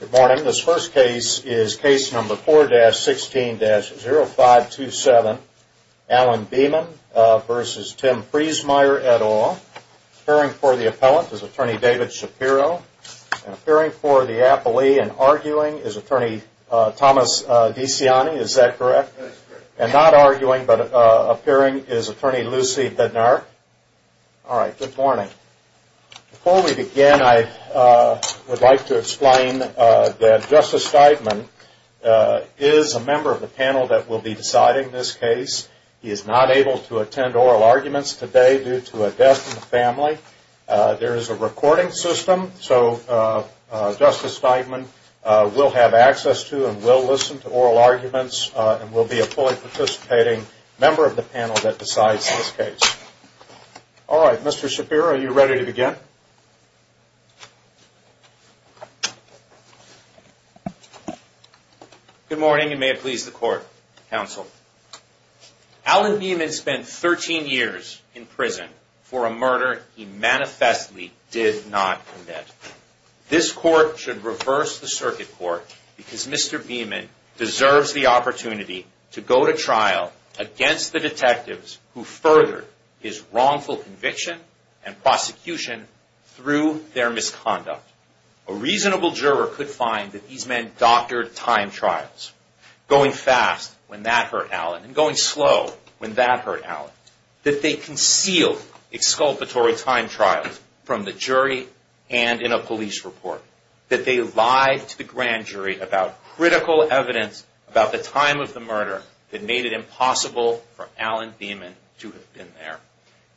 Good morning. This first case is Case No. 4-16-0527, Alan Beaman v. Tim Freesmeyer, et al. Appearing for the appellant is Attorney David Shapiro. And appearing for the appellee and arguing is Attorney Thomas DeCiani. Is that correct? That's correct. And not arguing but appearing is Attorney Lucy Bednar. All right. Good morning. Before we begin, I would like to explain that Justice Steigman is a member of the panel that will be deciding this case. He is not able to attend oral arguments today due to a death in the family. There is a recording system, so Justice Steigman will have access to and will listen to oral arguments and will be a fully participating member of the panel that decides this case. All right. Mr. Shapiro, are you ready to begin? Good morning. You may please the court, counsel. Alan Beaman spent 13 years in prison for a murder he manifestly did not commit. This court should reverse the circuit court because Mr. Beaman deserves the opportunity to go to trial against the detectives who furthered his wrongful conviction and prosecution through their misconduct. A reasonable juror could find that these men doctored time trials, going fast when that hurt Alan and going slow when that hurt Alan. That they concealed exculpatory time trials from the jury and in a police report. That they lied to the grand jury about critical evidence about the time of the murder that made it impossible for Alan Beaman to have been there.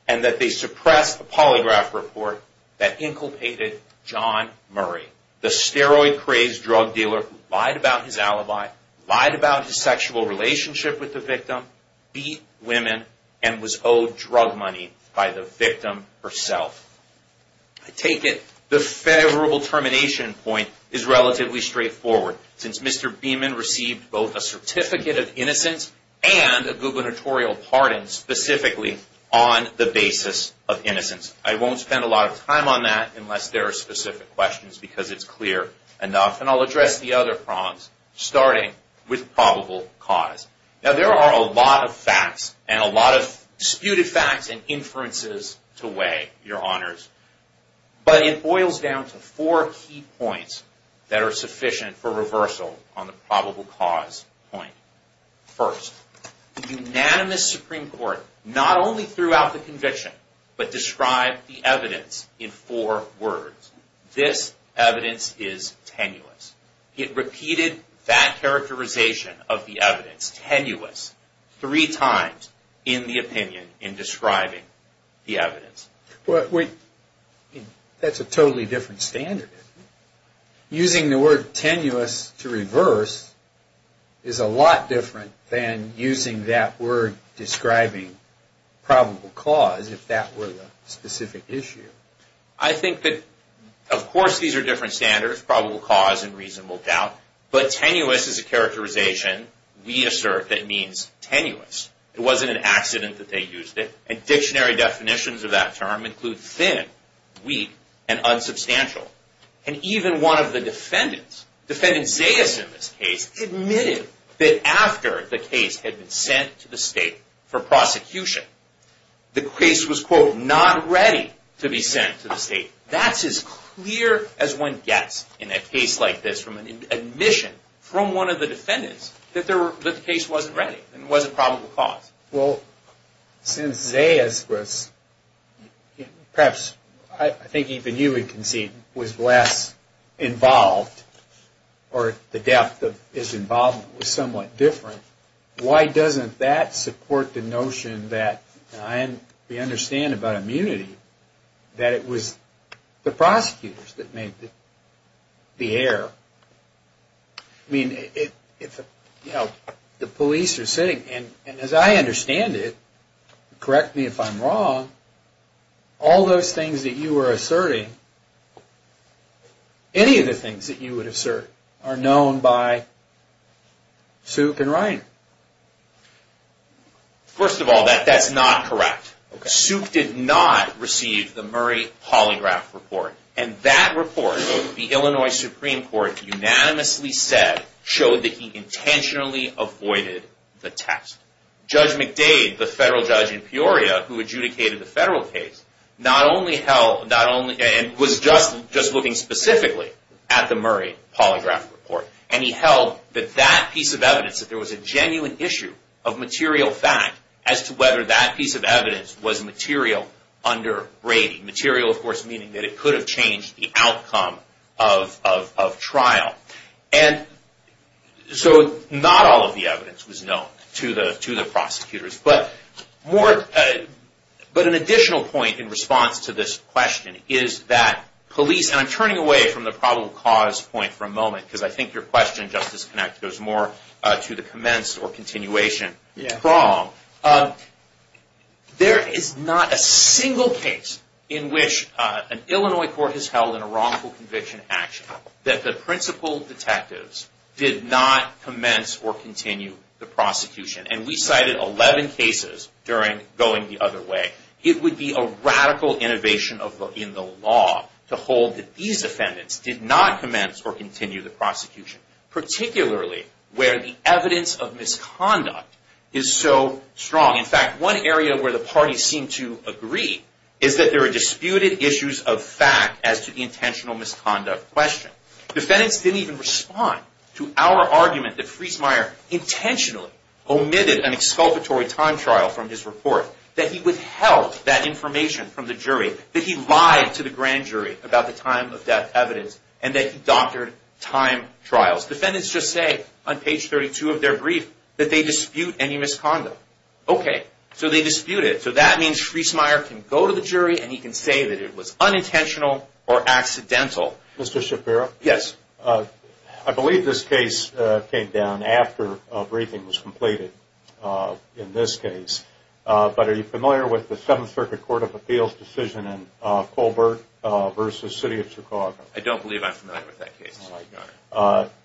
And that they suppressed a polygraph report that inculpated John Murray, the steroid-crazed drug dealer who lied about his alibi, lied about his sexual relationship with the victim, beat women, and was owed drug money by the victim herself. I take it the favorable termination point is relatively straightforward since Mr. Beaman received both a certificate of innocence and a gubernatorial pardon specifically on the basis of innocence. I won't spend a lot of time on that unless there are specific questions because it's clear enough. And I'll address the other problems starting with probable cause. Now there are a lot of facts and a lot of disputed facts and inferences to weigh, Your Honors. But it boils down to four key points that are sufficient for reversal on the probable cause point. First, the unanimous Supreme Court not only threw out the conviction, but described the evidence in four words. This evidence is tenuous. It repeated that characterization of the evidence, tenuous, three times in the opinion in describing the evidence. That's a totally different standard. Using the word tenuous to reverse is a lot different than using that word describing probable cause if that were the specific issue. I think that, of course, these are different standards, probable cause and reasonable doubt. But tenuous is a characterization we assert that means tenuous. It wasn't an accident that they used it. And dictionary definitions of that term include thin, weak, and unsubstantial. And even one of the defendants, Defendant Zayas in this case, admitted that after the case had been sent to the state for prosecution, the case was, quote, not ready to be sent to the state. That's as clear as one gets in a case like this from an admission from one of the defendants that the case wasn't ready and wasn't probable cause. Well, since Zayas was perhaps, I think even you would concede, was less involved or the depth of his involvement was somewhat different, why doesn't that support the notion that we understand about immunity that it was the prosecutors that made the error? I mean, the police are sitting, and as I understand it, correct me if I'm wrong, all those things that you are asserting, any of the things that you would assert, are known by Souk and Ryan. First of all, that's not correct. Souk did not receive the Murray polygraph report. And that report, the Illinois Supreme Court unanimously said, showed that he intentionally avoided the test. Judge McDade, the federal judge in Peoria who adjudicated the federal case, was just looking specifically at the Murray polygraph report. And he held that that piece of evidence, that there was a genuine issue of material fact as to whether that piece of evidence was material under rating. Material, of course, meaning that it could have changed the outcome of trial. And so not all of the evidence was known to the prosecutors. But an additional point in response to this question is that police, and I'm turning away from the probable cause point for a moment, because I think your question, Justice Connett, goes more to the commence or continuation problem. There is not a single case in which an Illinois court has held in a wrongful conviction action that the principal detectives did not commence or continue the prosecution. And we cited 11 cases during Going the Other Way. It would be a radical innovation in the law to hold that these defendants did not commence or continue the prosecution, particularly where the evidence of misconduct is so strong. In fact, one area where the parties seem to agree is that there are disputed issues of fact as to the intentional misconduct question. Defendants didn't even respond to our argument that Friesmeier intentionally omitted an exculpatory time trial from his report, that he withheld that information from the jury, that he lied to the grand jury about the time of death evidence, and that he doctored time trials. Defendants just say on page 32 of their brief that they dispute any misconduct. Okay, so they dispute it. So that means Friesmeier can go to the jury and he can say that it was unintentional or accidental. Mr. Shapiro? Yes. I believe this case came down after a briefing was completed in this case. But are you familiar with the Seventh Circuit Court of Appeals decision in Colbert v. City of Chicago? I don't believe I'm familiar with that case.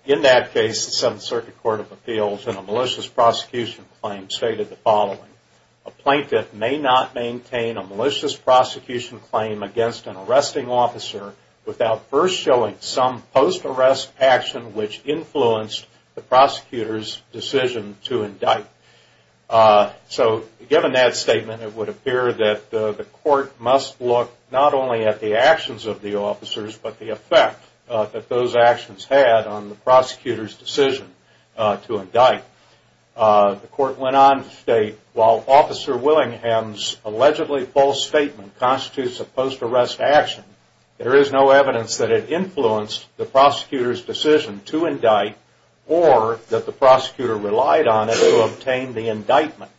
In that case, the Seventh Circuit Court of Appeals in a malicious prosecution claim stated the following, a plaintiff may not maintain a malicious prosecution claim against an arresting officer without first showing some post-arrest action which influenced the prosecutor's decision to indict. So given that statement, it would appear that the court must look not only at the actions of the officers but the effect that those actions had on the prosecutor's decision to indict. The court went on to state, while Officer Willingham's allegedly false statement constitutes a post-arrest action, there is no evidence that it influenced the prosecutor's decision to indict or that the prosecutor relied on it to obtain the indictment.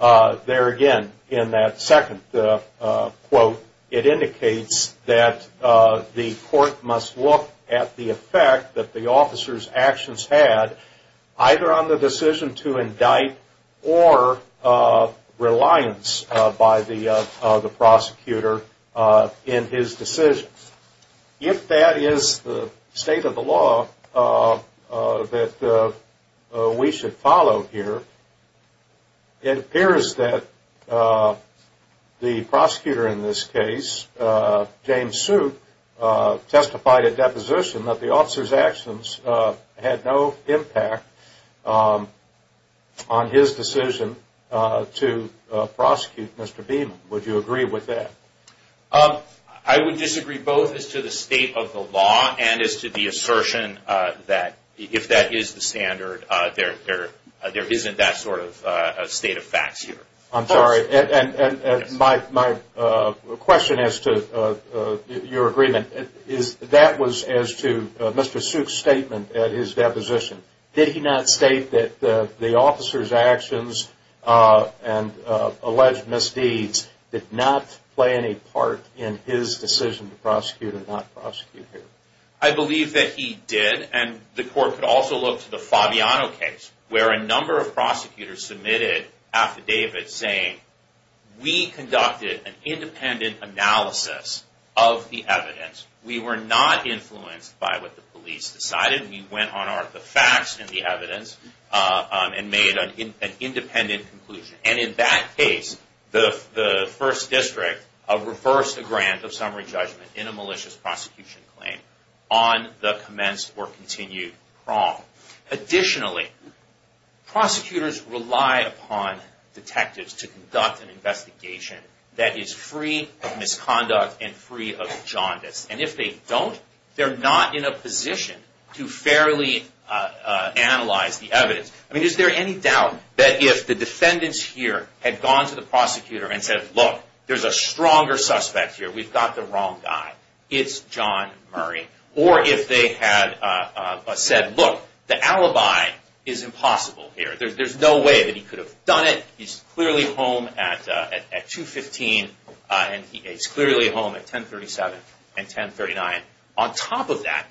There again, in that second quote, it indicates that the court must look at the effect that the officer's actions had either on the decision to indict or reliance by the prosecutor in his decision. If that is the state of the law that we should follow here, it appears that the prosecutor in this case, James Soup, testified at deposition that the officer's actions had no impact on his decision to prosecute Mr. Beeman. Would you agree with that? I would disagree both as to the state of the law and as to the assertion that if that is the standard, there isn't that sort of state of facts here. I'm sorry, my question as to your agreement is that was as to Mr. Soup's statement at his deposition. Did he not state that the officer's actions and alleged misdeeds did not play any part in his decision to prosecute or not prosecute him? I believe that he did and the court could also look to the Fabiano case where a number of prosecutors submitted affidavits saying we conducted an independent analysis of the evidence. We were not influenced by what the police decided. We went on the facts and the evidence and made an independent conclusion. And in that case, the first district reversed the grant of summary judgment in a malicious prosecution claim on the commenced or continued prong. Additionally, prosecutors rely upon detectives to conduct an investigation that is free of misconduct and free of jaundice. And if they don't, they're not in a position to fairly analyze the evidence. I mean, is there any doubt that if the defendants here had gone to the prosecutor and said, look, there's a stronger suspect here, we've got the wrong guy, it's John Murray. Or if they had said, look, the alibi is impossible here. There's no way that he could have done it. He's clearly home at 2.15 and he's clearly home at 10.37 and 10.39. On top of that,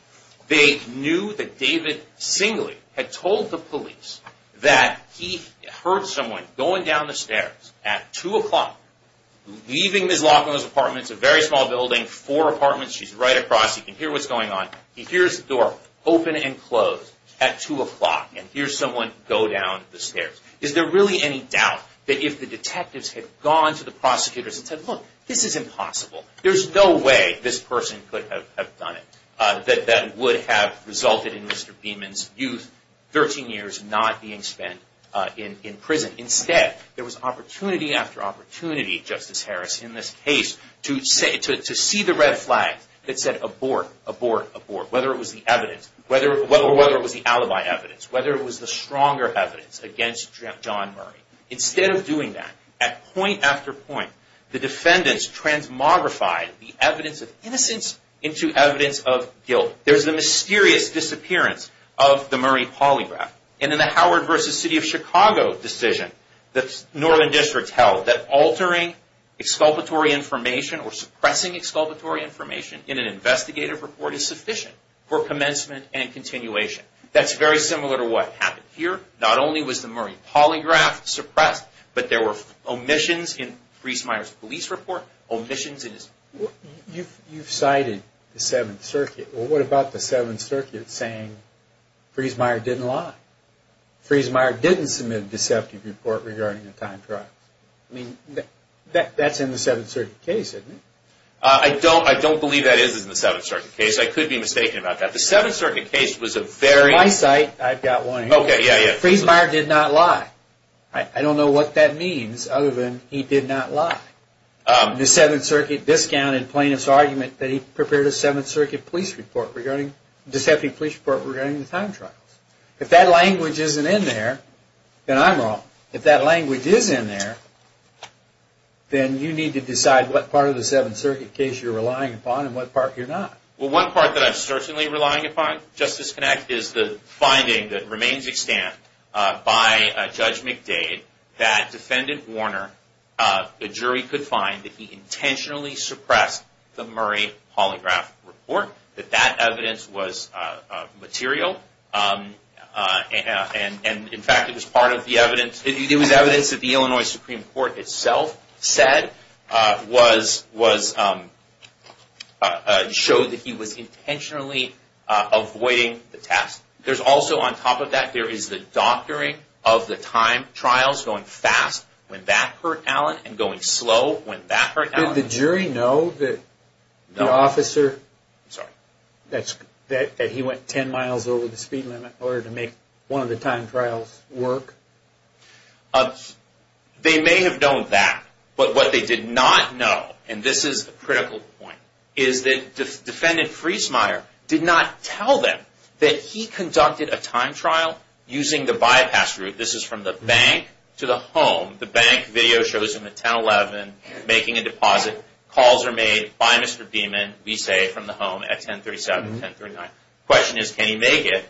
they knew that David Singley had told the police that he heard someone going down the stairs at 2 o'clock, leaving Ms. Laughlin's apartment. It's a very small building, four apartments. She's right across. You can hear what's going on. He hears the door open and close at 2 o'clock and hears someone go down the stairs. Is there really any doubt that if the detectives had gone to the prosecutors and said, look, this is impossible, there's no way this person could have done it, that that would have resulted in Mr. Beeman's youth, 13 years, not being spent in prison. Instead, there was opportunity after opportunity, Justice Harris, in this case, to see the red flag that said abort, abort, abort, whether it was the alibi evidence, whether it was the stronger evidence against John Murray. Instead of doing that, at point after point, the defendants transmogrified the evidence of innocence into evidence of guilt. There's the mysterious disappearance of the Murray polygraph. And in the Howard v. City of Chicago decision, the Northern District held that altering exculpatory information or suppressing exculpatory information in an investigative report is sufficient for commencement and continuation. That's very similar to what happened here. Not only was the Murray polygraph suppressed, but there were omissions in Friesmeier's police report, omissions in his... You've cited the Seventh Circuit. Well, what about the Seventh Circuit saying Friesmeier didn't lie? Friesmeier didn't submit a deceptive report regarding a time trial? I mean, that's in the Seventh Circuit case, isn't it? I don't believe that is in the Seventh Circuit case. I could be mistaken about that. The Seventh Circuit case was a very... In my sight, I've got one here. Okay, yeah, yeah. Friesmeier did not lie. I don't know what that means, other than he did not lie. The Seventh Circuit discounted plaintiff's argument that he prepared a Seventh Circuit police report regarding... Deceptive police report regarding the time trials. If that language isn't in there, then I'm wrong. If that language is in there, then you need to decide what part of the Seventh Circuit case you're relying upon and what part you're not. Well, one part that I'm certainly relying upon, Justice Knacht, is the finding that remains extant by Judge McDade that Defendant Warner, the jury could find, that he intentionally suppressed the Murray Holographic Report. That that evidence was material. And, in fact, it was part of the evidence... It was evidence that the Illinois Supreme Court itself said was... Showed that he was intentionally avoiding the task. There's also, on top of that, there is the doctoring of the time trials, going fast when that hurt Allen, and going slow when that hurt Allen. Did the jury know that the officer... No. I'm sorry. That he went 10 miles over the speed limit in order to make one of the time trials work? They may have known that, but what they did not know, and this is a critical point, is that Defendant Friesmeier did not tell them that he conducted a time trial using the bypass route. This is from the bank to the home. The bank video shows him at 10-11 making a deposit. Calls are made by Mr. Diemen, we say, from the home at 10-37, 10-39. Question is, can he make it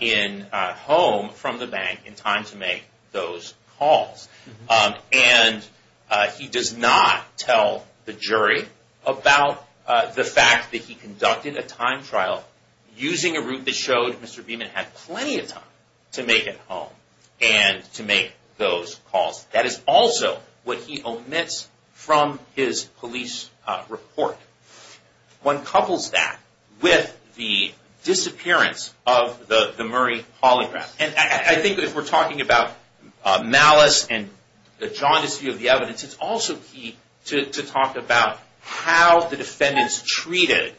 in home from the bank in time to make those calls? And he does not tell the jury about the fact that he conducted a time trial using a route that showed Mr. Diemen had plenty of time to make it home, and to make those calls. That is also what he omits from his police report. One couples that with the disappearance of the Murray Holograph. I think if we're talking about malice and the jaundice view of the evidence, it's also key to talk about how the defendants treated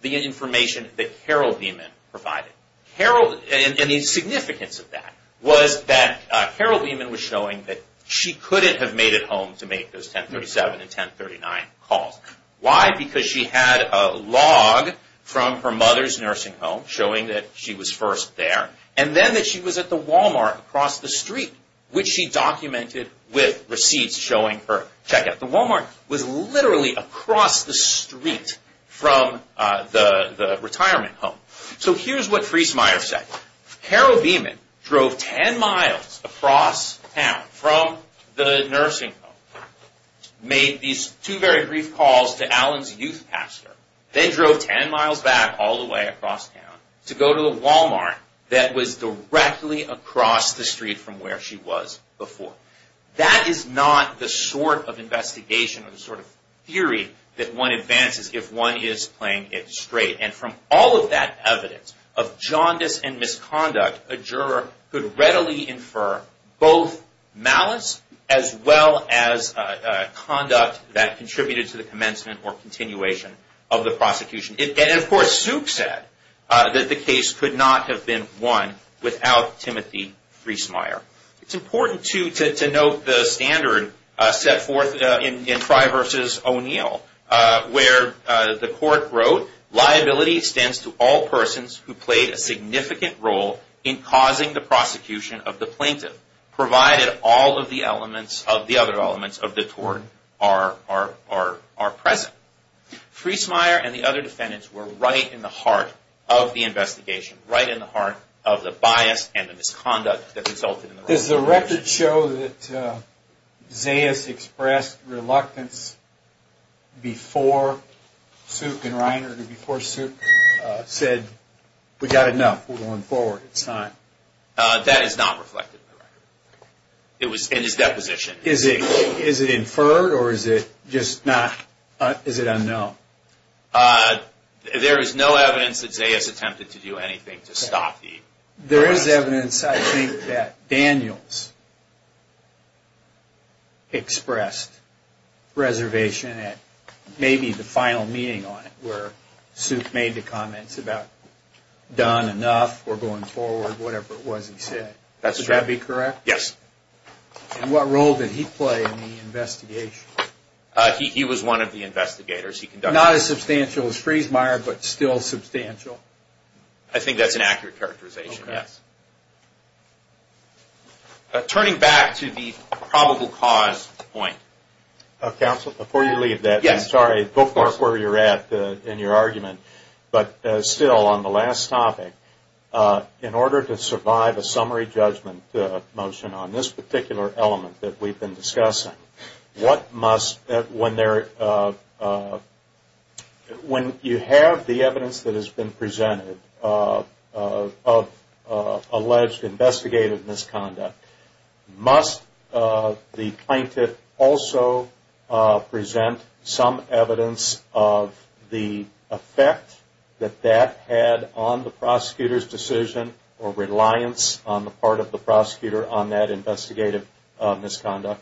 the information that Carol Diemen provided. The significance of that was that Carol Diemen was showing that she couldn't have made it home to make those 10-37 and 10-39 calls. Why? Because she had a log from her mother's nursing home showing that she was first there, and then that she was at the Walmart across the street, which she documented with receipts showing her check-out. The Walmart was literally across the street from the retirement home. So here's what Friesmeier said. Carol Diemen drove 10 miles across town from the nursing home, made these two very brief calls to Alan's youth pastor, then drove 10 miles back all the way across town to go to the Walmart that was directly across the street from where she was before. That is not the sort of investigation or the sort of theory that one advances if one is playing it straight. And from all of that evidence of jaundice and misconduct, a juror could readily infer both malice, as well as conduct that contributed to the commencement or continuation of the prosecution. And, of course, Zook said that the case could not have been won without Timothy Friesmeier. It's important, too, to note the standard set forth in Fry v. O'Neill, where the court wrote, Liability extends to all persons who played a significant role in causing the prosecution of the plaintiff, provided all of the other elements of the tort are present. Friesmeier and the other defendants were right in the heart of the investigation, right in the heart of the bias and the misconduct that resulted in the wrongful conviction. Does the record show that Zayas expressed reluctance before Sook and Reiner, before Sook said, We've got enough. We're going forward. It's time. That is not reflected in the record. It was in his deposition. Is it inferred or is it just not? Is it unknown? There is no evidence that Zayas attempted to do anything to stop the harassment. There is evidence, I think, that Daniels expressed reservation at maybe the final meeting on it, where Sook made the comments about done enough, we're going forward, whatever it was he said. That's true. Would that be correct? Yes. And what role did he play in the investigation? He was one of the investigators. Not as substantial as Friesmeier, but still substantial. I think that's an accurate characterization, yes. Turning back to the probable cause point. Counsel, before you leave that, I'm sorry. Go forth where you're at in your argument. But still, on the last topic, in order to survive a summary judgment motion on this particular element that we've been discussing, what must, when you have the evidence that has been presented of alleged investigative misconduct, must the plaintiff also present some evidence of the effect that that had on the prosecutor's decision or reliance on the part of the prosecutor on that investigative misconduct?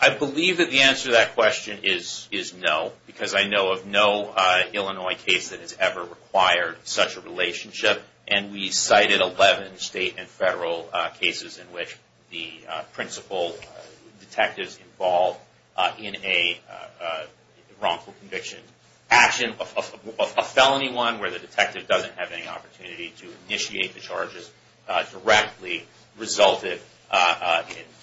I believe that the answer to that question is no, because I know of no Illinois case that has ever required such a relationship. And we cited 11 state and federal cases in which the principal detectives involved in a wrongful conviction, action of a felony one where the detective doesn't have any opportunity to initiate the charges directly, resulted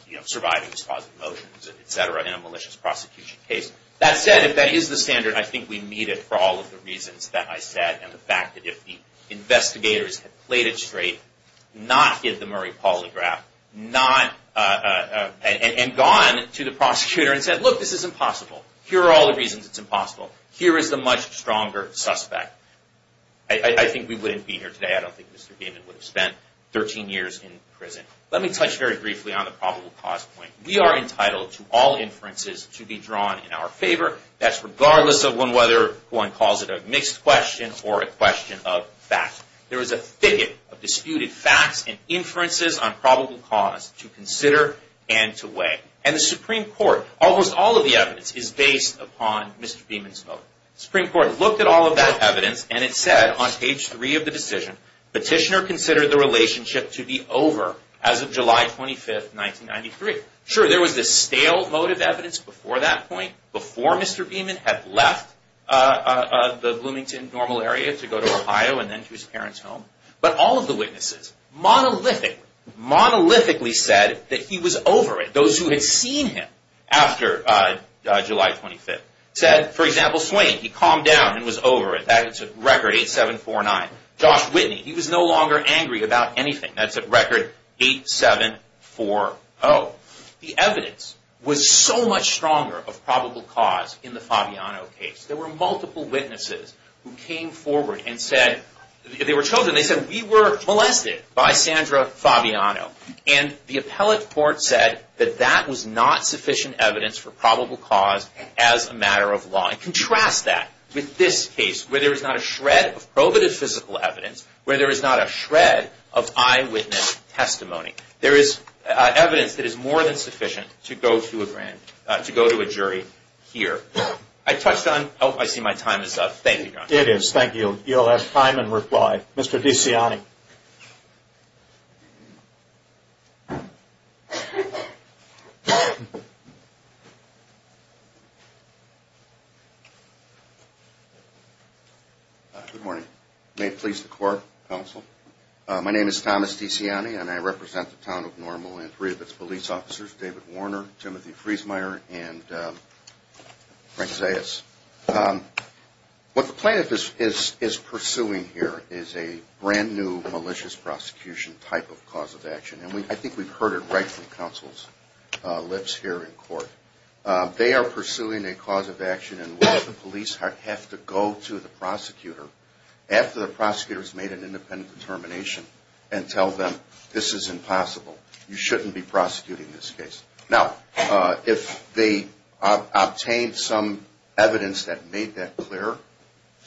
in surviving these positive motions, et cetera, in a malicious prosecution case. That said, if that is the standard, I think we meet it for all of the reasons that I said, and the fact that if the investigators had played it straight, not give the Murray polygraph, and gone to the prosecutor and said, look, this is impossible. Here are all the reasons it's impossible. Here is the much stronger suspect. I think we wouldn't be here today. I don't think Mr. Gaiman would have spent 13 years in prison. Let me touch very briefly on the probable cause point. We are entitled to all inferences to be drawn in our favor. That's regardless of whether one calls it a mixed question or a question of fact. There is a thicket of disputed facts and inferences on probable cause to consider and to weigh. And the Supreme Court, almost all of the evidence is based upon Mr. Gaiman's vote. The Supreme Court looked at all of that evidence, and it said on page three of the decision, Petitioner considered the relationship to be over as of July 25, 1993. Sure, there was this stale vote of evidence before that point, before Mr. Gaiman had left the Bloomington normal area to go to Ohio and then to his parents' home. But all of the witnesses monolithically said that he was over it. Those who had seen him after July 25 said, for example, Swain, he calmed down and was over it. That's a record, 8749. Josh Whitney, he was no longer angry about anything. That's a record, 8740. The evidence was so much stronger of probable cause in the Fabiano case. There were multiple witnesses who came forward and said, they were children, they said, we were molested by Sandra Fabiano. And the appellate court said that that was not sufficient evidence for probable cause as a matter of law. Contrast that with this case, where there is not a shred of probative physical evidence, where there is not a shred of eyewitness testimony. There is evidence that is more than sufficient to go to a jury here. I touched on – oh, I see my time is up. Thank you, John. It is. Thank you. You'll have time and reply. Mr. DeCiani. Good morning. May it please the court, counsel. My name is Thomas DeCiani, and I represent the town of Normal and three of its police officers, David Warner, Timothy Friesmeier, and Frank Zayas. What the plaintiff is pursuing here is a brand-new malicious prosecution type of cause of action. And I think we've heard it right from counsel's lips here in court. They are pursuing a cause of action in which the police have to go to the prosecutor after the prosecutor has made an independent determination and tell them, this is impossible. You shouldn't be prosecuting this case. Now, if they obtained some evidence that made that clear,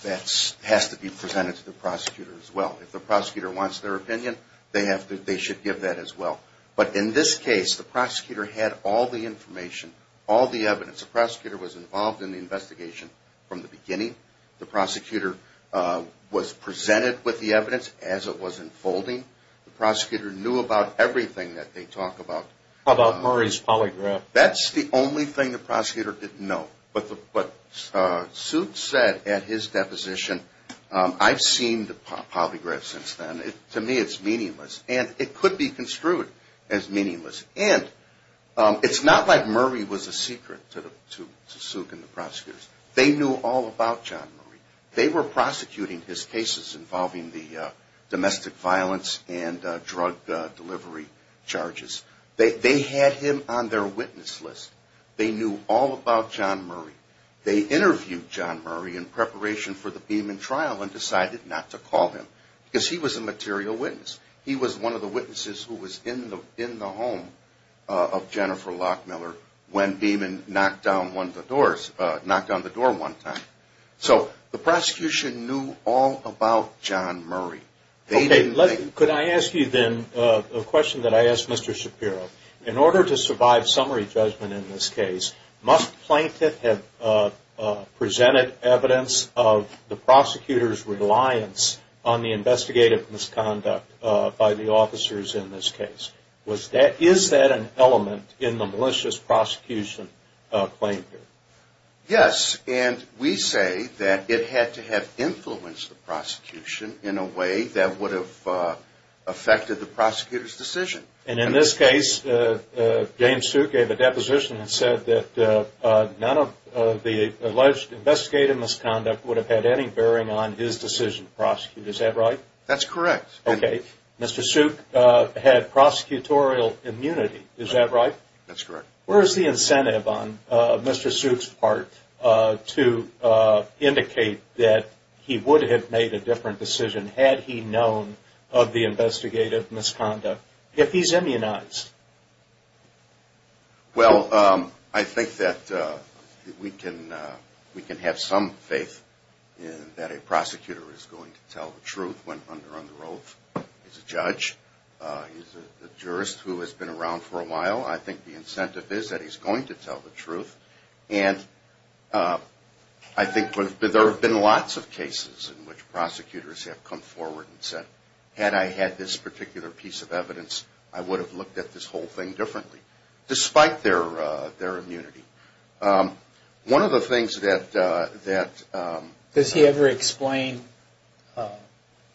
that has to be presented to the prosecutor as well. If the prosecutor wants their opinion, they should give that as well. But in this case, the prosecutor had all the information, all the evidence. The prosecutor was involved in the investigation from the beginning. The prosecutor was presented with the evidence as it was unfolding. The prosecutor knew about everything that they talk about. How about Murray's polygraph? That's the only thing the prosecutor didn't know. But Suke said at his deposition, I've seen the polygraph since then. To me, it's meaningless. And it could be construed as meaningless. And it's not like Murray was a secret to Suke and the prosecutors. They knew all about John Murray. They were prosecuting his cases involving the domestic violence and drug delivery charges. They had him on their witness list. They knew all about John Murray. They interviewed John Murray in preparation for the Beeman trial and decided not to call him because he was a material witness. He was one of the witnesses who was in the home of Jennifer Lockmiller when Beeman knocked on the door one time. So the prosecution knew all about John Murray. Could I ask you then a question that I asked Mr. Shapiro? In order to survive summary judgment in this case, must the plaintiff have presented evidence of the prosecutor's reliance on the investigative misconduct by the officers in this case? Is that an element in the malicious prosecution claim here? Yes. And we say that it had to have influenced the prosecution in a way that would have affected the prosecutor's decision. And in this case, James Suke gave a deposition and said that none of the alleged investigative misconduct would have had any bearing on his decision to prosecute. Is that right? That's correct. Okay. Mr. Suke had prosecutorial immunity. Is that right? That's correct. Where is the incentive on Mr. Suke's part to indicate that he would have made a different decision had he known of the investigative misconduct if he's immunized? Well, I think that we can have some faith that a prosecutor is going to tell the truth when under oath. He's a judge. He's a jurist who has been around for a while. I think the incentive is that he's going to tell the truth. And I think there have been lots of cases in which prosecutors have come forward and said, had I had this particular piece of evidence, I would have looked at this whole thing differently, despite their immunity. One of the things that... Does he ever explain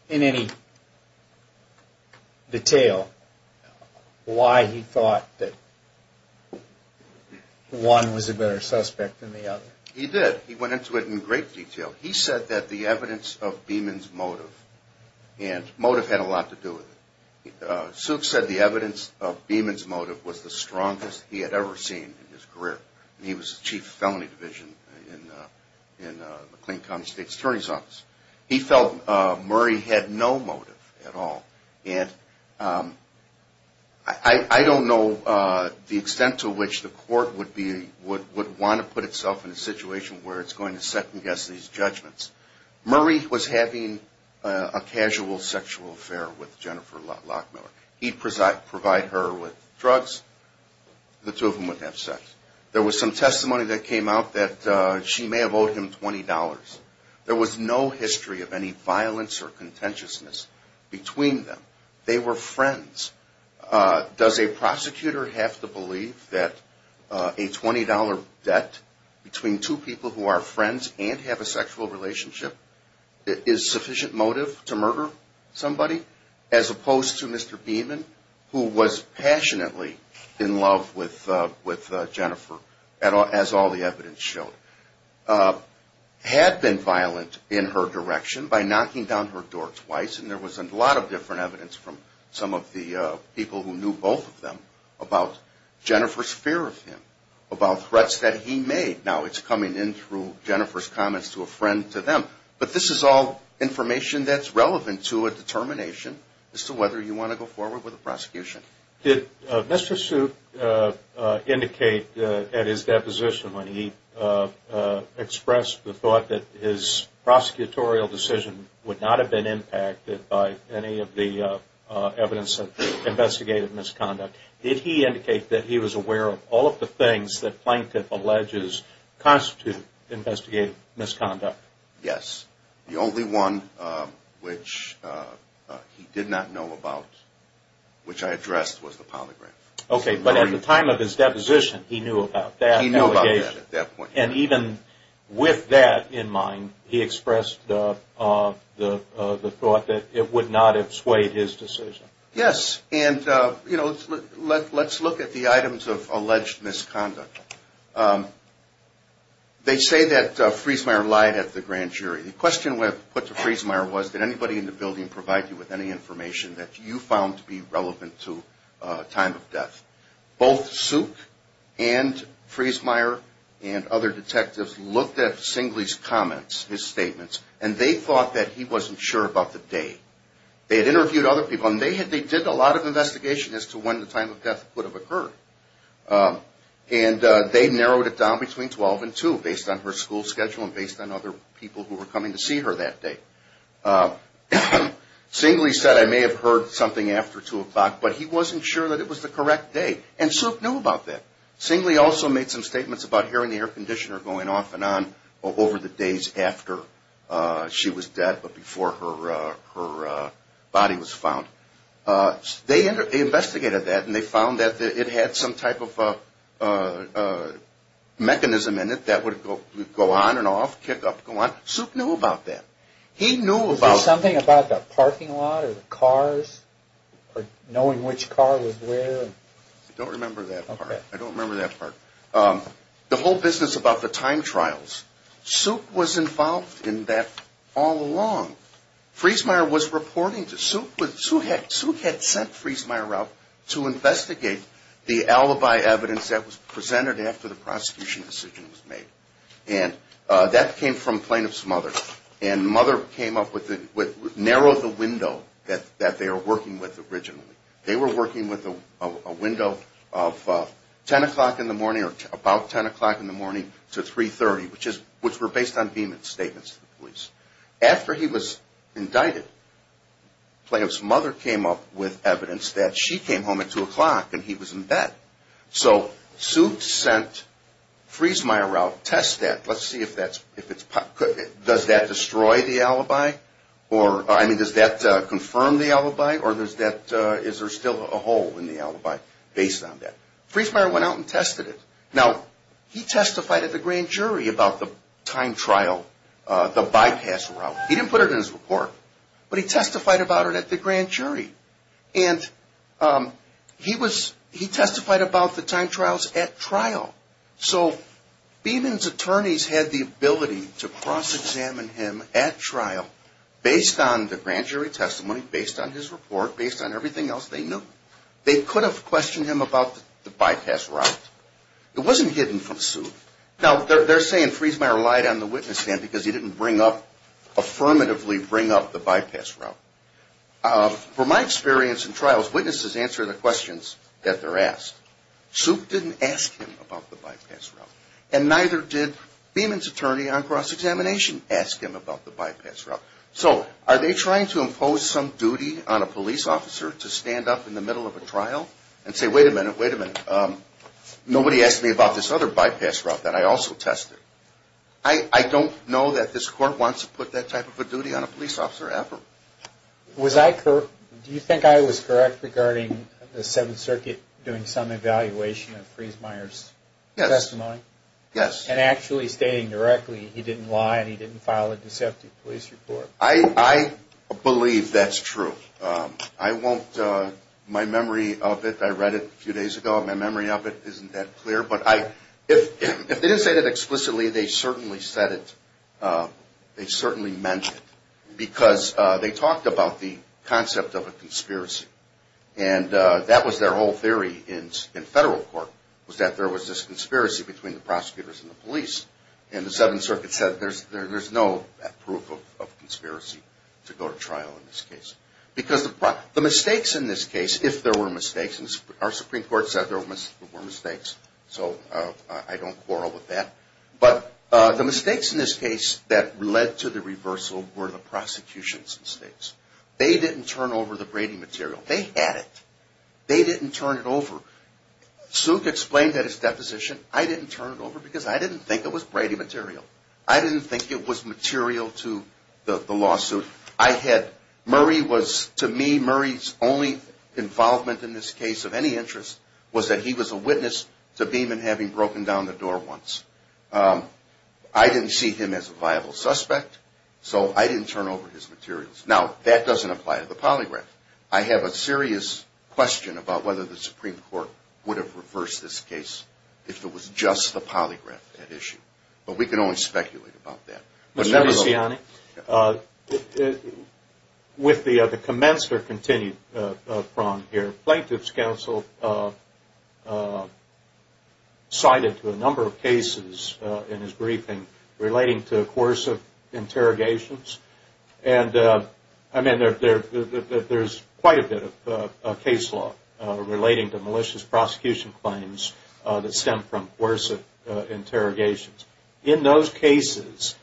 in any detail why he thought that one was a better suspect than the other? He did. He went into it in great detail. He said that the evidence of Beeman's motive, and motive had a lot to do with it. Suke said the evidence of Beeman's motive was the strongest he had ever seen in his career. He was the chief of felony division in McLean County State's attorney's office. He felt Murray had no motive at all. And I don't know the extent to which the court would want to put itself in a situation where it's going to second-guess these judgments. Murray was having a casual sexual affair with Jennifer Lockmiller. He'd provide her with drugs. The two of them would have sex. There was some testimony that came out that she may have owed him $20. There was no history of any violence or contentiousness between them. They were friends. Does a prosecutor have to believe that a $20 debt between two people who are friends and have a sexual relationship is sufficient motive to murder somebody? As opposed to Mr. Beeman, who was passionately in love with Jennifer, as all the evidence showed, had been violent in her direction by knocking down her door twice. And there was a lot of different evidence from some of the people who knew both of them about Jennifer's fear of him, about threats that he made. Now it's coming in through Jennifer's comments to a friend to them. But this is all information that's relevant to a determination as to whether you want to go forward with a prosecution. Did Mr. Suit indicate at his deposition when he expressed the thought that his prosecutorial decision would not have been impacted by any of the evidence of investigative misconduct? Did he indicate that he was aware of all of the things that plaintiff alleges constitute investigative misconduct? Yes. The only one which he did not know about, which I addressed, was the polygraph. Okay, but at the time of his deposition, he knew about that allegation. He knew about that at that point. And even with that in mind, he expressed the thought that it would not have swayed his decision. Yes. And, you know, let's look at the items of alleged misconduct. They say that Friesmeier lied at the grand jury. The question put to Friesmeier was, did anybody in the building provide you with any information that you found to be relevant to time of death? Both Suit and Friesmeier and other detectives looked at Singley's comments, his statements, and they thought that he wasn't sure about the date. They had interviewed other people, and they did a lot of investigation as to when the time of death would have occurred. And they narrowed it down between 12 and 2 based on her school schedule and based on other people who were coming to see her that day. Singley said, I may have heard something after 2 o'clock, but he wasn't sure that it was the correct day. And Suit knew about that. Singley also made some statements about hearing the air conditioner going off and on over the days after she was dead but before her body was found. They investigated that, and they found that it had some type of mechanism in it that would go on and off, kick up, go on. Suit knew about that. Was there something about the parking lot or the cars or knowing which car was where? I don't remember that part. I don't remember that part. The whole business about the time trials, Suit was involved in that all along. Friesmeier was reporting to – Suit had sent Friesmeier out to investigate the alibi evidence that was presented after the prosecution decision was made. And that came from plaintiff's mother. And mother came up with – narrowed the window that they were working with originally. They were working with a window of 10 o'clock in the morning or about 10 o'clock in the morning to 3.30, which were based on Beeman's statements to the police. After he was indicted, plaintiff's mother came up with evidence that she came home at 2 o'clock and he was in bed. So Suit sent Friesmeier out to test that. Let's see if that's – does that destroy the alibi or – I mean, does that confirm the alibi or is there still a hole in the alibi based on that? Friesmeier went out and tested it. Now, he testified at the grand jury about the time trial, the bypass route. He didn't put it in his report, but he testified about it at the grand jury. And he was – he testified about the time trials at trial. So Beeman's attorneys had the ability to cross-examine him at trial based on the grand jury testimony, based on his report, based on everything else they knew. They could have questioned him about the bypass route. It wasn't hidden from Suit. Now, they're saying Friesmeier relied on the witness stand because he didn't bring up – affirmatively bring up the bypass route. From my experience in trials, witnesses answer the questions that they're asked. Suit didn't ask him about the bypass route. And neither did Beeman's attorney on cross-examination ask him about the bypass route. So are they trying to impose some duty on a police officer to stand up in the middle of a trial and say, wait a minute, wait a minute. Nobody asked me about this other bypass route that I also tested. I don't know that this court wants to put that type of a duty on a police officer ever. Was I – do you think I was correct regarding the Seventh Circuit doing some evaluation of Friesmeier's testimony? Yes. And actually stating directly he didn't lie and he didn't file a deceptive police report. I believe that's true. I won't – my memory of it – I read it a few days ago. My memory of it isn't that clear. But I – if they didn't say that explicitly, they certainly said it. They certainly meant it. Because they talked about the concept of a conspiracy. And that was their whole theory in federal court was that there was this conspiracy between the prosecutors and the police. And the Seventh Circuit said there's no proof of conspiracy to go to trial in this case. Because the – the mistakes in this case, if there were mistakes, and our Supreme Court said there were mistakes. So I don't quarrel with that. But the mistakes in this case that led to the reversal were the prosecution's mistakes. They didn't turn over the Brady material. They had it. They didn't turn it over. Suk explained at his deposition, I didn't turn it over because I didn't think it was Brady material. I didn't think it was material to the lawsuit. I had – Murray was – to me, Murray's only involvement in this case of any interest was that he was a witness to Beeman having broken down the door once. I didn't see him as a viable suspect. So I didn't turn over his materials. Now, that doesn't apply to the polygraph. I have a serious question about whether the Supreme Court would have reversed this case if it was just the polygraph that issued. But we can only speculate about that. With the commensurate continued prong here, Plaintiff's Counsel cited a number of cases in his briefing relating to coercive interrogations. And, I mean, there's quite a bit of case law relating to malicious prosecution claims that stem from coercive interrogations. In those cases,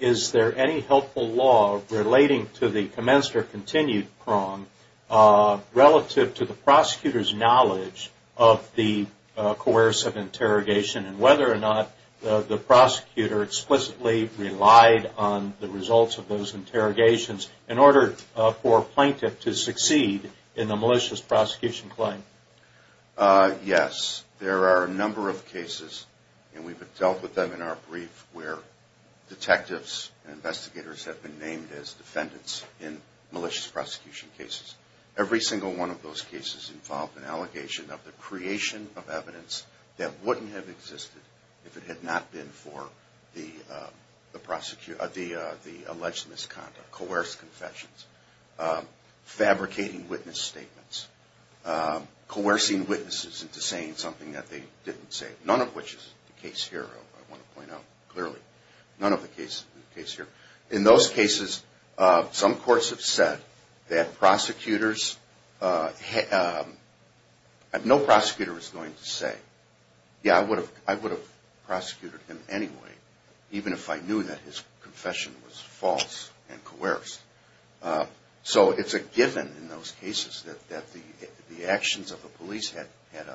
is there any helpful law relating to the commensurate continued prong relative to the prosecutor's knowledge of the coercive interrogation and whether or not the prosecutor explicitly relied on the results of those interrogations in order for Plaintiff to succeed in the malicious prosecution claim? Yes. There are a number of cases, and we've dealt with them in our brief, where detectives and investigators have been named as defendants in malicious prosecution cases. Every single one of those cases involved an allegation of the creation of evidence that wouldn't have existed if it had not been for the alleged misconduct, coerced confessions, fabricating witness statements, coercing witnesses into saying something that they didn't say, none of which is the case here, I want to point out clearly. None of the cases is the case here. In those cases, some courts have said that prosecutors, no prosecutor is going to say, yeah, I would have prosecuted him anyway, even if I knew that his confession was false and coerced. So it's a given in those cases that the actions of the police had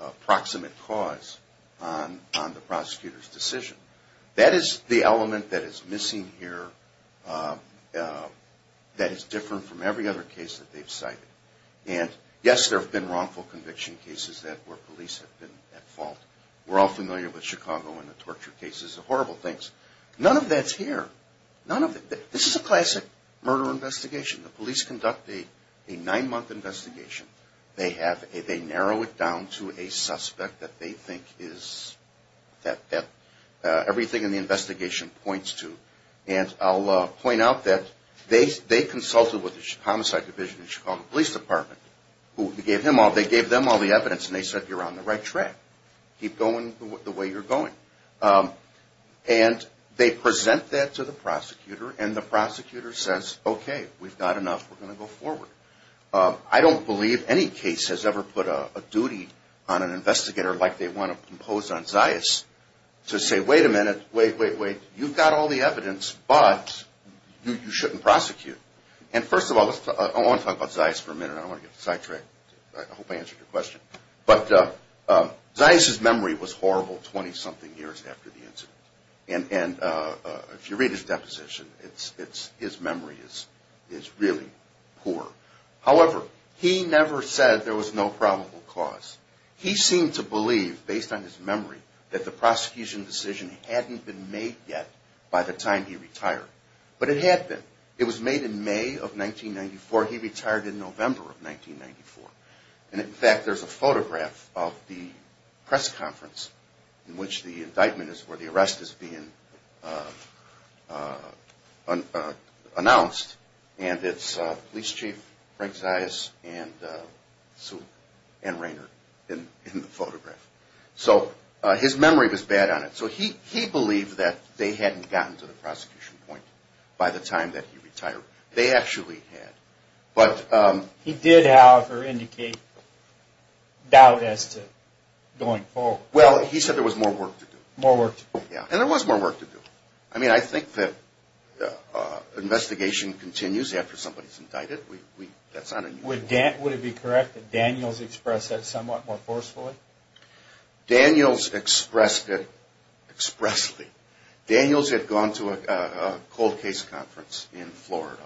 a proximate cause on the prosecutor's decision. That is the element that is missing here that is different from every other case that they've cited. And yes, there have been wrongful conviction cases where police have been at fault. We're all familiar with Chicago and the torture cases, the horrible things. None of that's here. None of it. This is a classic murder investigation. The police conduct a nine-month investigation. They narrow it down to a suspect that they think is, that everything in the investigation points to. And I'll point out that they consulted with the Homicide Division of the Chicago Police Department. They gave them all the evidence and they said, you're on the right track. Keep going the way you're going. And they present that to the prosecutor and the prosecutor says, okay, we've got enough. We're going to go forward. I don't believe any case has ever put a duty on an investigator like they want to impose on Zias to say, wait a minute. Wait, wait, wait. You've got all the evidence, but you shouldn't prosecute. And first of all, I want to talk about Zias for a minute. I don't want to get sidetracked. I hope I answered your question. But Zias' memory was horrible 20-something years after the incident. And if you read his deposition, his memory is really poor. However, he never said there was no probable cause. He seemed to believe, based on his memory, that the prosecution decision hadn't been made yet by the time he retired. But it had been. It was made in May of 1994. He retired in November of 1994. And, in fact, there's a photograph of the press conference in which the indictment is where the arrest is being announced. And it's Police Chief Frank Zias and Rainer in the photograph. So his memory was bad on it. So he believed that they hadn't gotten to the prosecution point by the time that he retired. They actually had. But he did, however, indicate doubt as to going forward. Well, he said there was more work to do. More work to do. Yeah. And there was more work to do. I mean, I think that investigation continues after somebody's indicted. That's not unusual. Would it be correct that Daniels expressed that somewhat more forcefully? Daniels expressed it expressly. Daniels had gone to a cold case conference in Florida.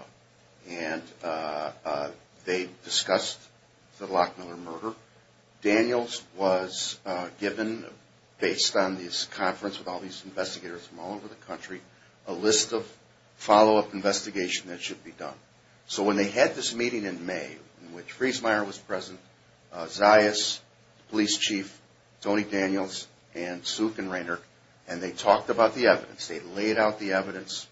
And they discussed the Lockmiller murder. Daniels was given, based on this conference with all these investigators from all over the country, a list of follow-up investigation that should be done. So when they had this meeting in May in which Friesmeier was present, Zias, Police Chief Tony Daniels, and Suk and Rainer, and they talked about the evidence, they laid out the evidence,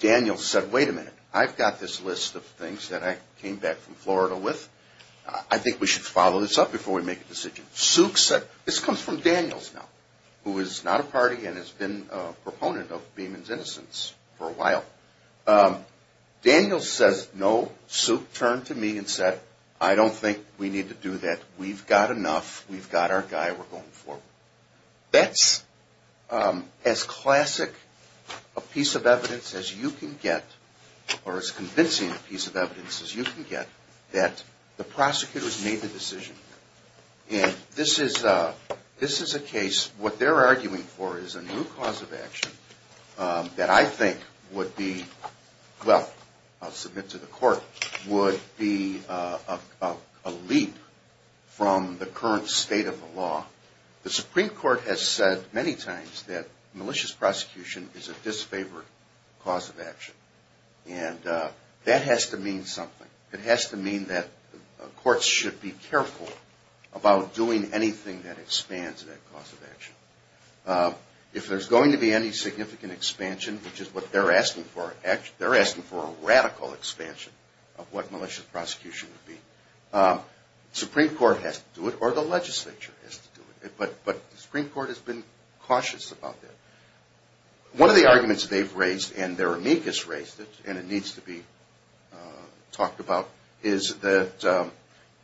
Daniels said, wait a minute, I've got this list of things that I came back from Florida with. I think we should follow this up before we make a decision. Suk said, this comes from Daniels now, who is not a party and has been a proponent of Beeman's innocence for a while. Daniels says, no, Suk turned to me and said, I don't think we need to do that. We've got enough. We've got our guy. We're going forward. That's as classic a piece of evidence as you can get, or as convincing a piece of evidence as you can get, that the prosecutors made the decision. And this is a case, what they're arguing for is a new cause of action that I think would be, well, I'll submit to the court, would be a leap from the current state of the law. The Supreme Court has said many times that malicious prosecution is a disfavored cause of action. And that has to mean something. It has to mean that courts should be careful about doing anything that expands that cause of action. If there's going to be any significant expansion, which is what they're asking for, they're asking for a radical expansion of what malicious prosecution would be. The Supreme Court has to do it, or the legislature has to do it. But the Supreme Court has been cautious about that. One of the arguments they've raised, and their amicus raised it, and it needs to be talked about, is that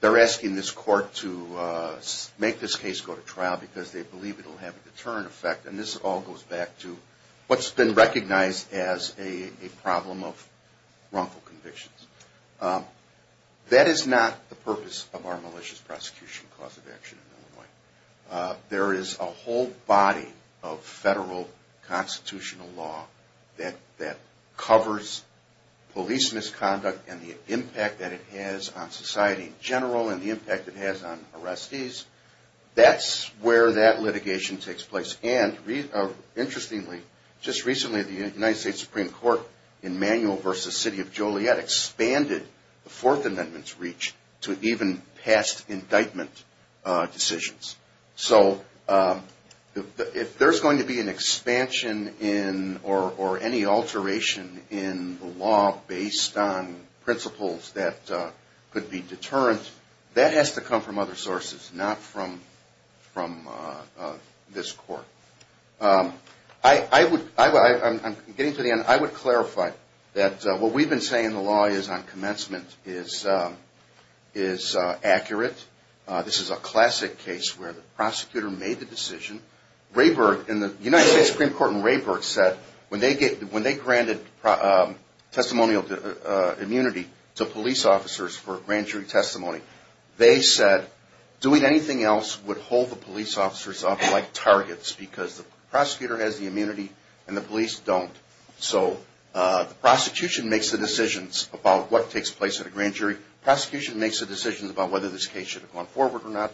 they're asking this court to make this case go to trial because they believe it will have a deterrent effect. And this all goes back to what's been recognized as a problem of wrongful convictions. That is not the purpose of our malicious prosecution cause of action in Illinois. There is a whole body of federal constitutional law that covers police misconduct and the impact that it has on society in general, and the impact it has on arrestees. That's where that litigation takes place. And, interestingly, just recently the United States Supreme Court in Manuel v. City of Joliet expanded the Fourth Amendment's reach to even past indictment decisions. So if there's going to be an expansion or any alteration in the law based on principles that could be deterrent, that has to come from other sources, not from this court. I'm getting to the end. I would clarify that what we've been saying in the law on commencement is accurate. This is a classic case where the prosecutor made the decision. The United States Supreme Court in Rayburg said when they granted testimonial immunity to police officers for grand jury testimony, they said doing anything else would hold the police officers off like targets because the prosecutor has the immunity and the police don't. So the prosecution makes the decisions about what takes place at a grand jury. Prosecution makes the decisions about whether this case should have gone forward or not.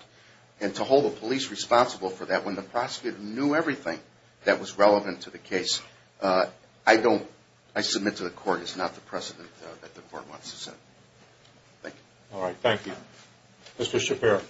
And to hold the police responsible for that when the prosecutor knew everything that was relevant to the case, I submit to the court it's not the precedent that the court wants to set. Thank you. All right, thank you. Mr. Shapiro.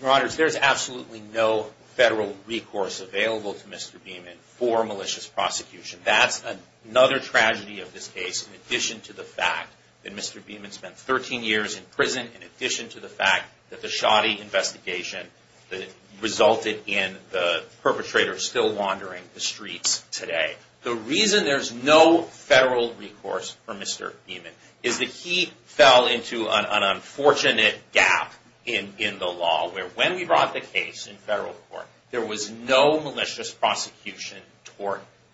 Your Honor, there's absolutely no federal recourse available to Mr. Beaman for malicious prosecution. That's another tragedy of this case in addition to the fact that Mr. Beaman spent 13 years in prison, in addition to the fact that the shoddy investigation that resulted in the perpetrator still wandering the streets today. The reason there's no federal recourse for Mr. Beaman is that he fell into an unfortunate gap in the law where when we brought the case in federal court, there was no malicious prosecution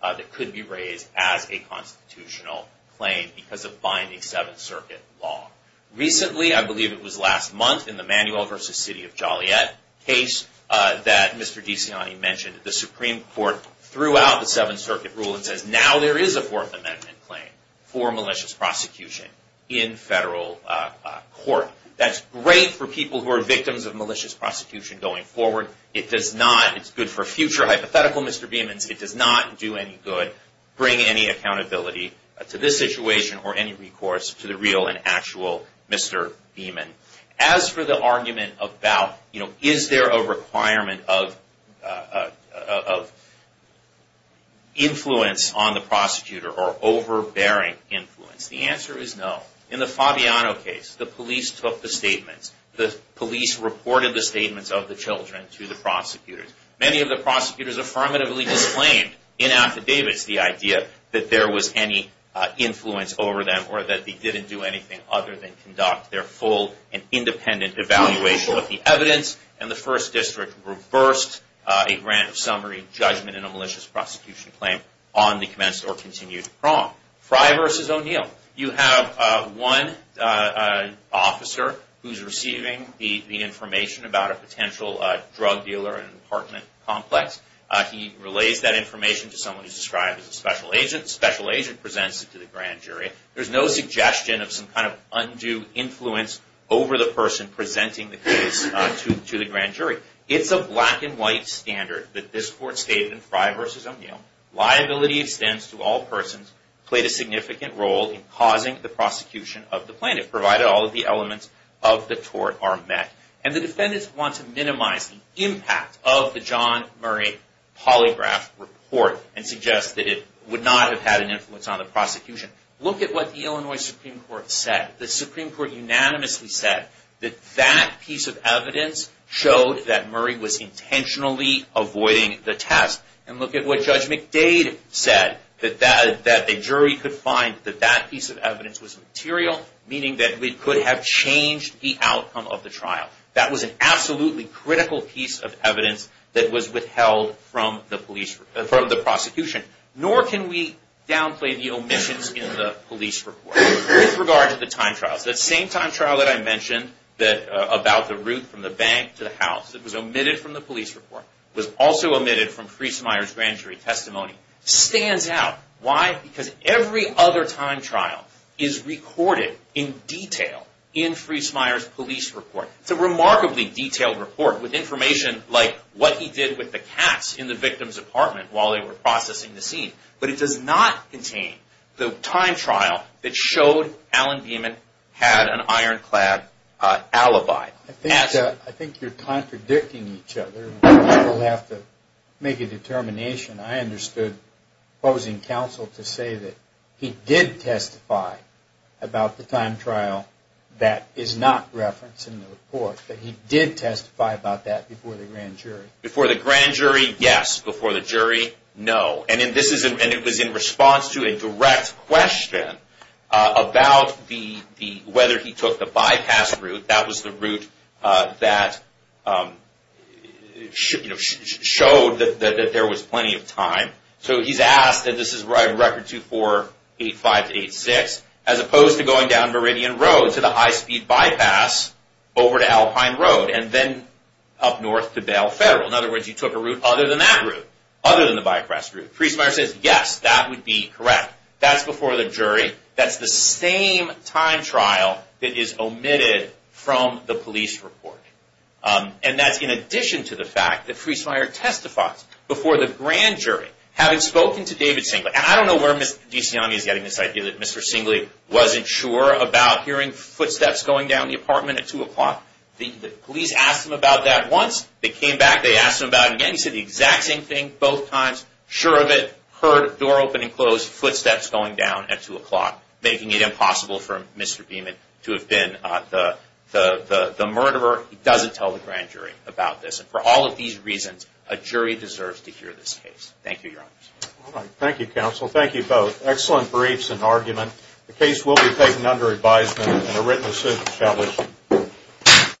that could be raised as a constitutional claim because of binding Seventh Circuit law. Recently, I believe it was last month in the Manuel v. City of Joliet case that Mr. DeCiani mentioned, the Supreme Court threw out the Seventh Circuit rule and says now there is a Fourth Amendment claim for malicious prosecution in federal court. That's great for people who are victims of malicious prosecution going forward. It's good for future hypothetical Mr. Beamans. It does not do any good, bring any accountability to this situation or any recourse to the real and actual Mr. Beaman. As for the argument about is there a requirement of influence on the prosecutor or overbearing influence, the answer is no. In the Fabiano case, the police reported the statements of the children to the prosecutors. Many of the prosecutors affirmatively disclaimed in affidavits the idea that there was any influence over them or that they didn't do anything other than conduct their full and independent evaluation of the evidence. And the First District reversed a grant of summary judgment in a malicious prosecution claim on the commenced or continued prong. Frye v. O'Neill. You have one officer who's receiving the information about a potential drug dealer in an apartment complex. He relays that information to someone who's described as a special agent. The special agent presents it to the grand jury. There's no suggestion of some kind of undue influence over the person presenting the case to the grand jury. It's a black and white standard that this court stated in Frye v. O'Neill. Liability extends to all persons who played a significant role in causing the prosecution of the plaintiff, provided all of the elements of the tort are met. And the defendants want to minimize the impact of the John Murray polygraph report and suggest that it would not have had an influence on the prosecution. Look at what the Illinois Supreme Court said. The Supreme Court unanimously said that that piece of evidence showed that Murray was intentionally avoiding the test. And look at what Judge McDade said, that a jury could find that that piece of evidence was material, meaning that we could have changed the outcome of the trial. That was an absolutely critical piece of evidence that was withheld from the prosecution. Nor can we downplay the omissions in the police report. With regard to the time trials, that same time trial that I mentioned about the route from the bank to the house, that was omitted from the police report, was also omitted from Friesmeier's grand jury testimony, stands out. Why? Because every other time trial is recorded in detail in Friesmeier's police report. It's a remarkably detailed report with information like what he did with the cats in the victim's apartment while they were processing the scene. But it does not contain the time trial that showed Allen Beeman had an ironclad alibi. I think you're contradicting each other. We'll have to make a determination. I understood opposing counsel to say that he did testify about the time trial that is not referenced in the report, that he did testify about that before the grand jury. Before the grand jury, yes. Before the jury, no. And it was in response to a direct question about whether he took the bypass route. That was the route that showed that there was plenty of time. So he's asked, and this is record 2485-86, as opposed to going down Meridian Road to the high-speed bypass over to Alpine Road and then up north to Bell Federal. In other words, he took a route other than that route, other than the bypass route. Friesmeier says, yes, that would be correct. That's before the jury. That's the same time trial that is omitted from the police report. And that's in addition to the fact that Friesmeier testifies before the grand jury, having spoken to David Singley. And I don't know where Ms. Desiani is getting this idea that Mr. Singley wasn't sure about hearing footsteps going down the apartment at 2 o'clock. The police asked him about that once. They came back. They asked him about it again. He said the exact same thing both times, sure of it, heard a door open and close, footsteps going down at 2 o'clock, making it impossible for Mr. Beeman to have been the murderer. He doesn't tell the grand jury about this. And for all of these reasons, a jury deserves to hear this case. Thank you, Your Honors.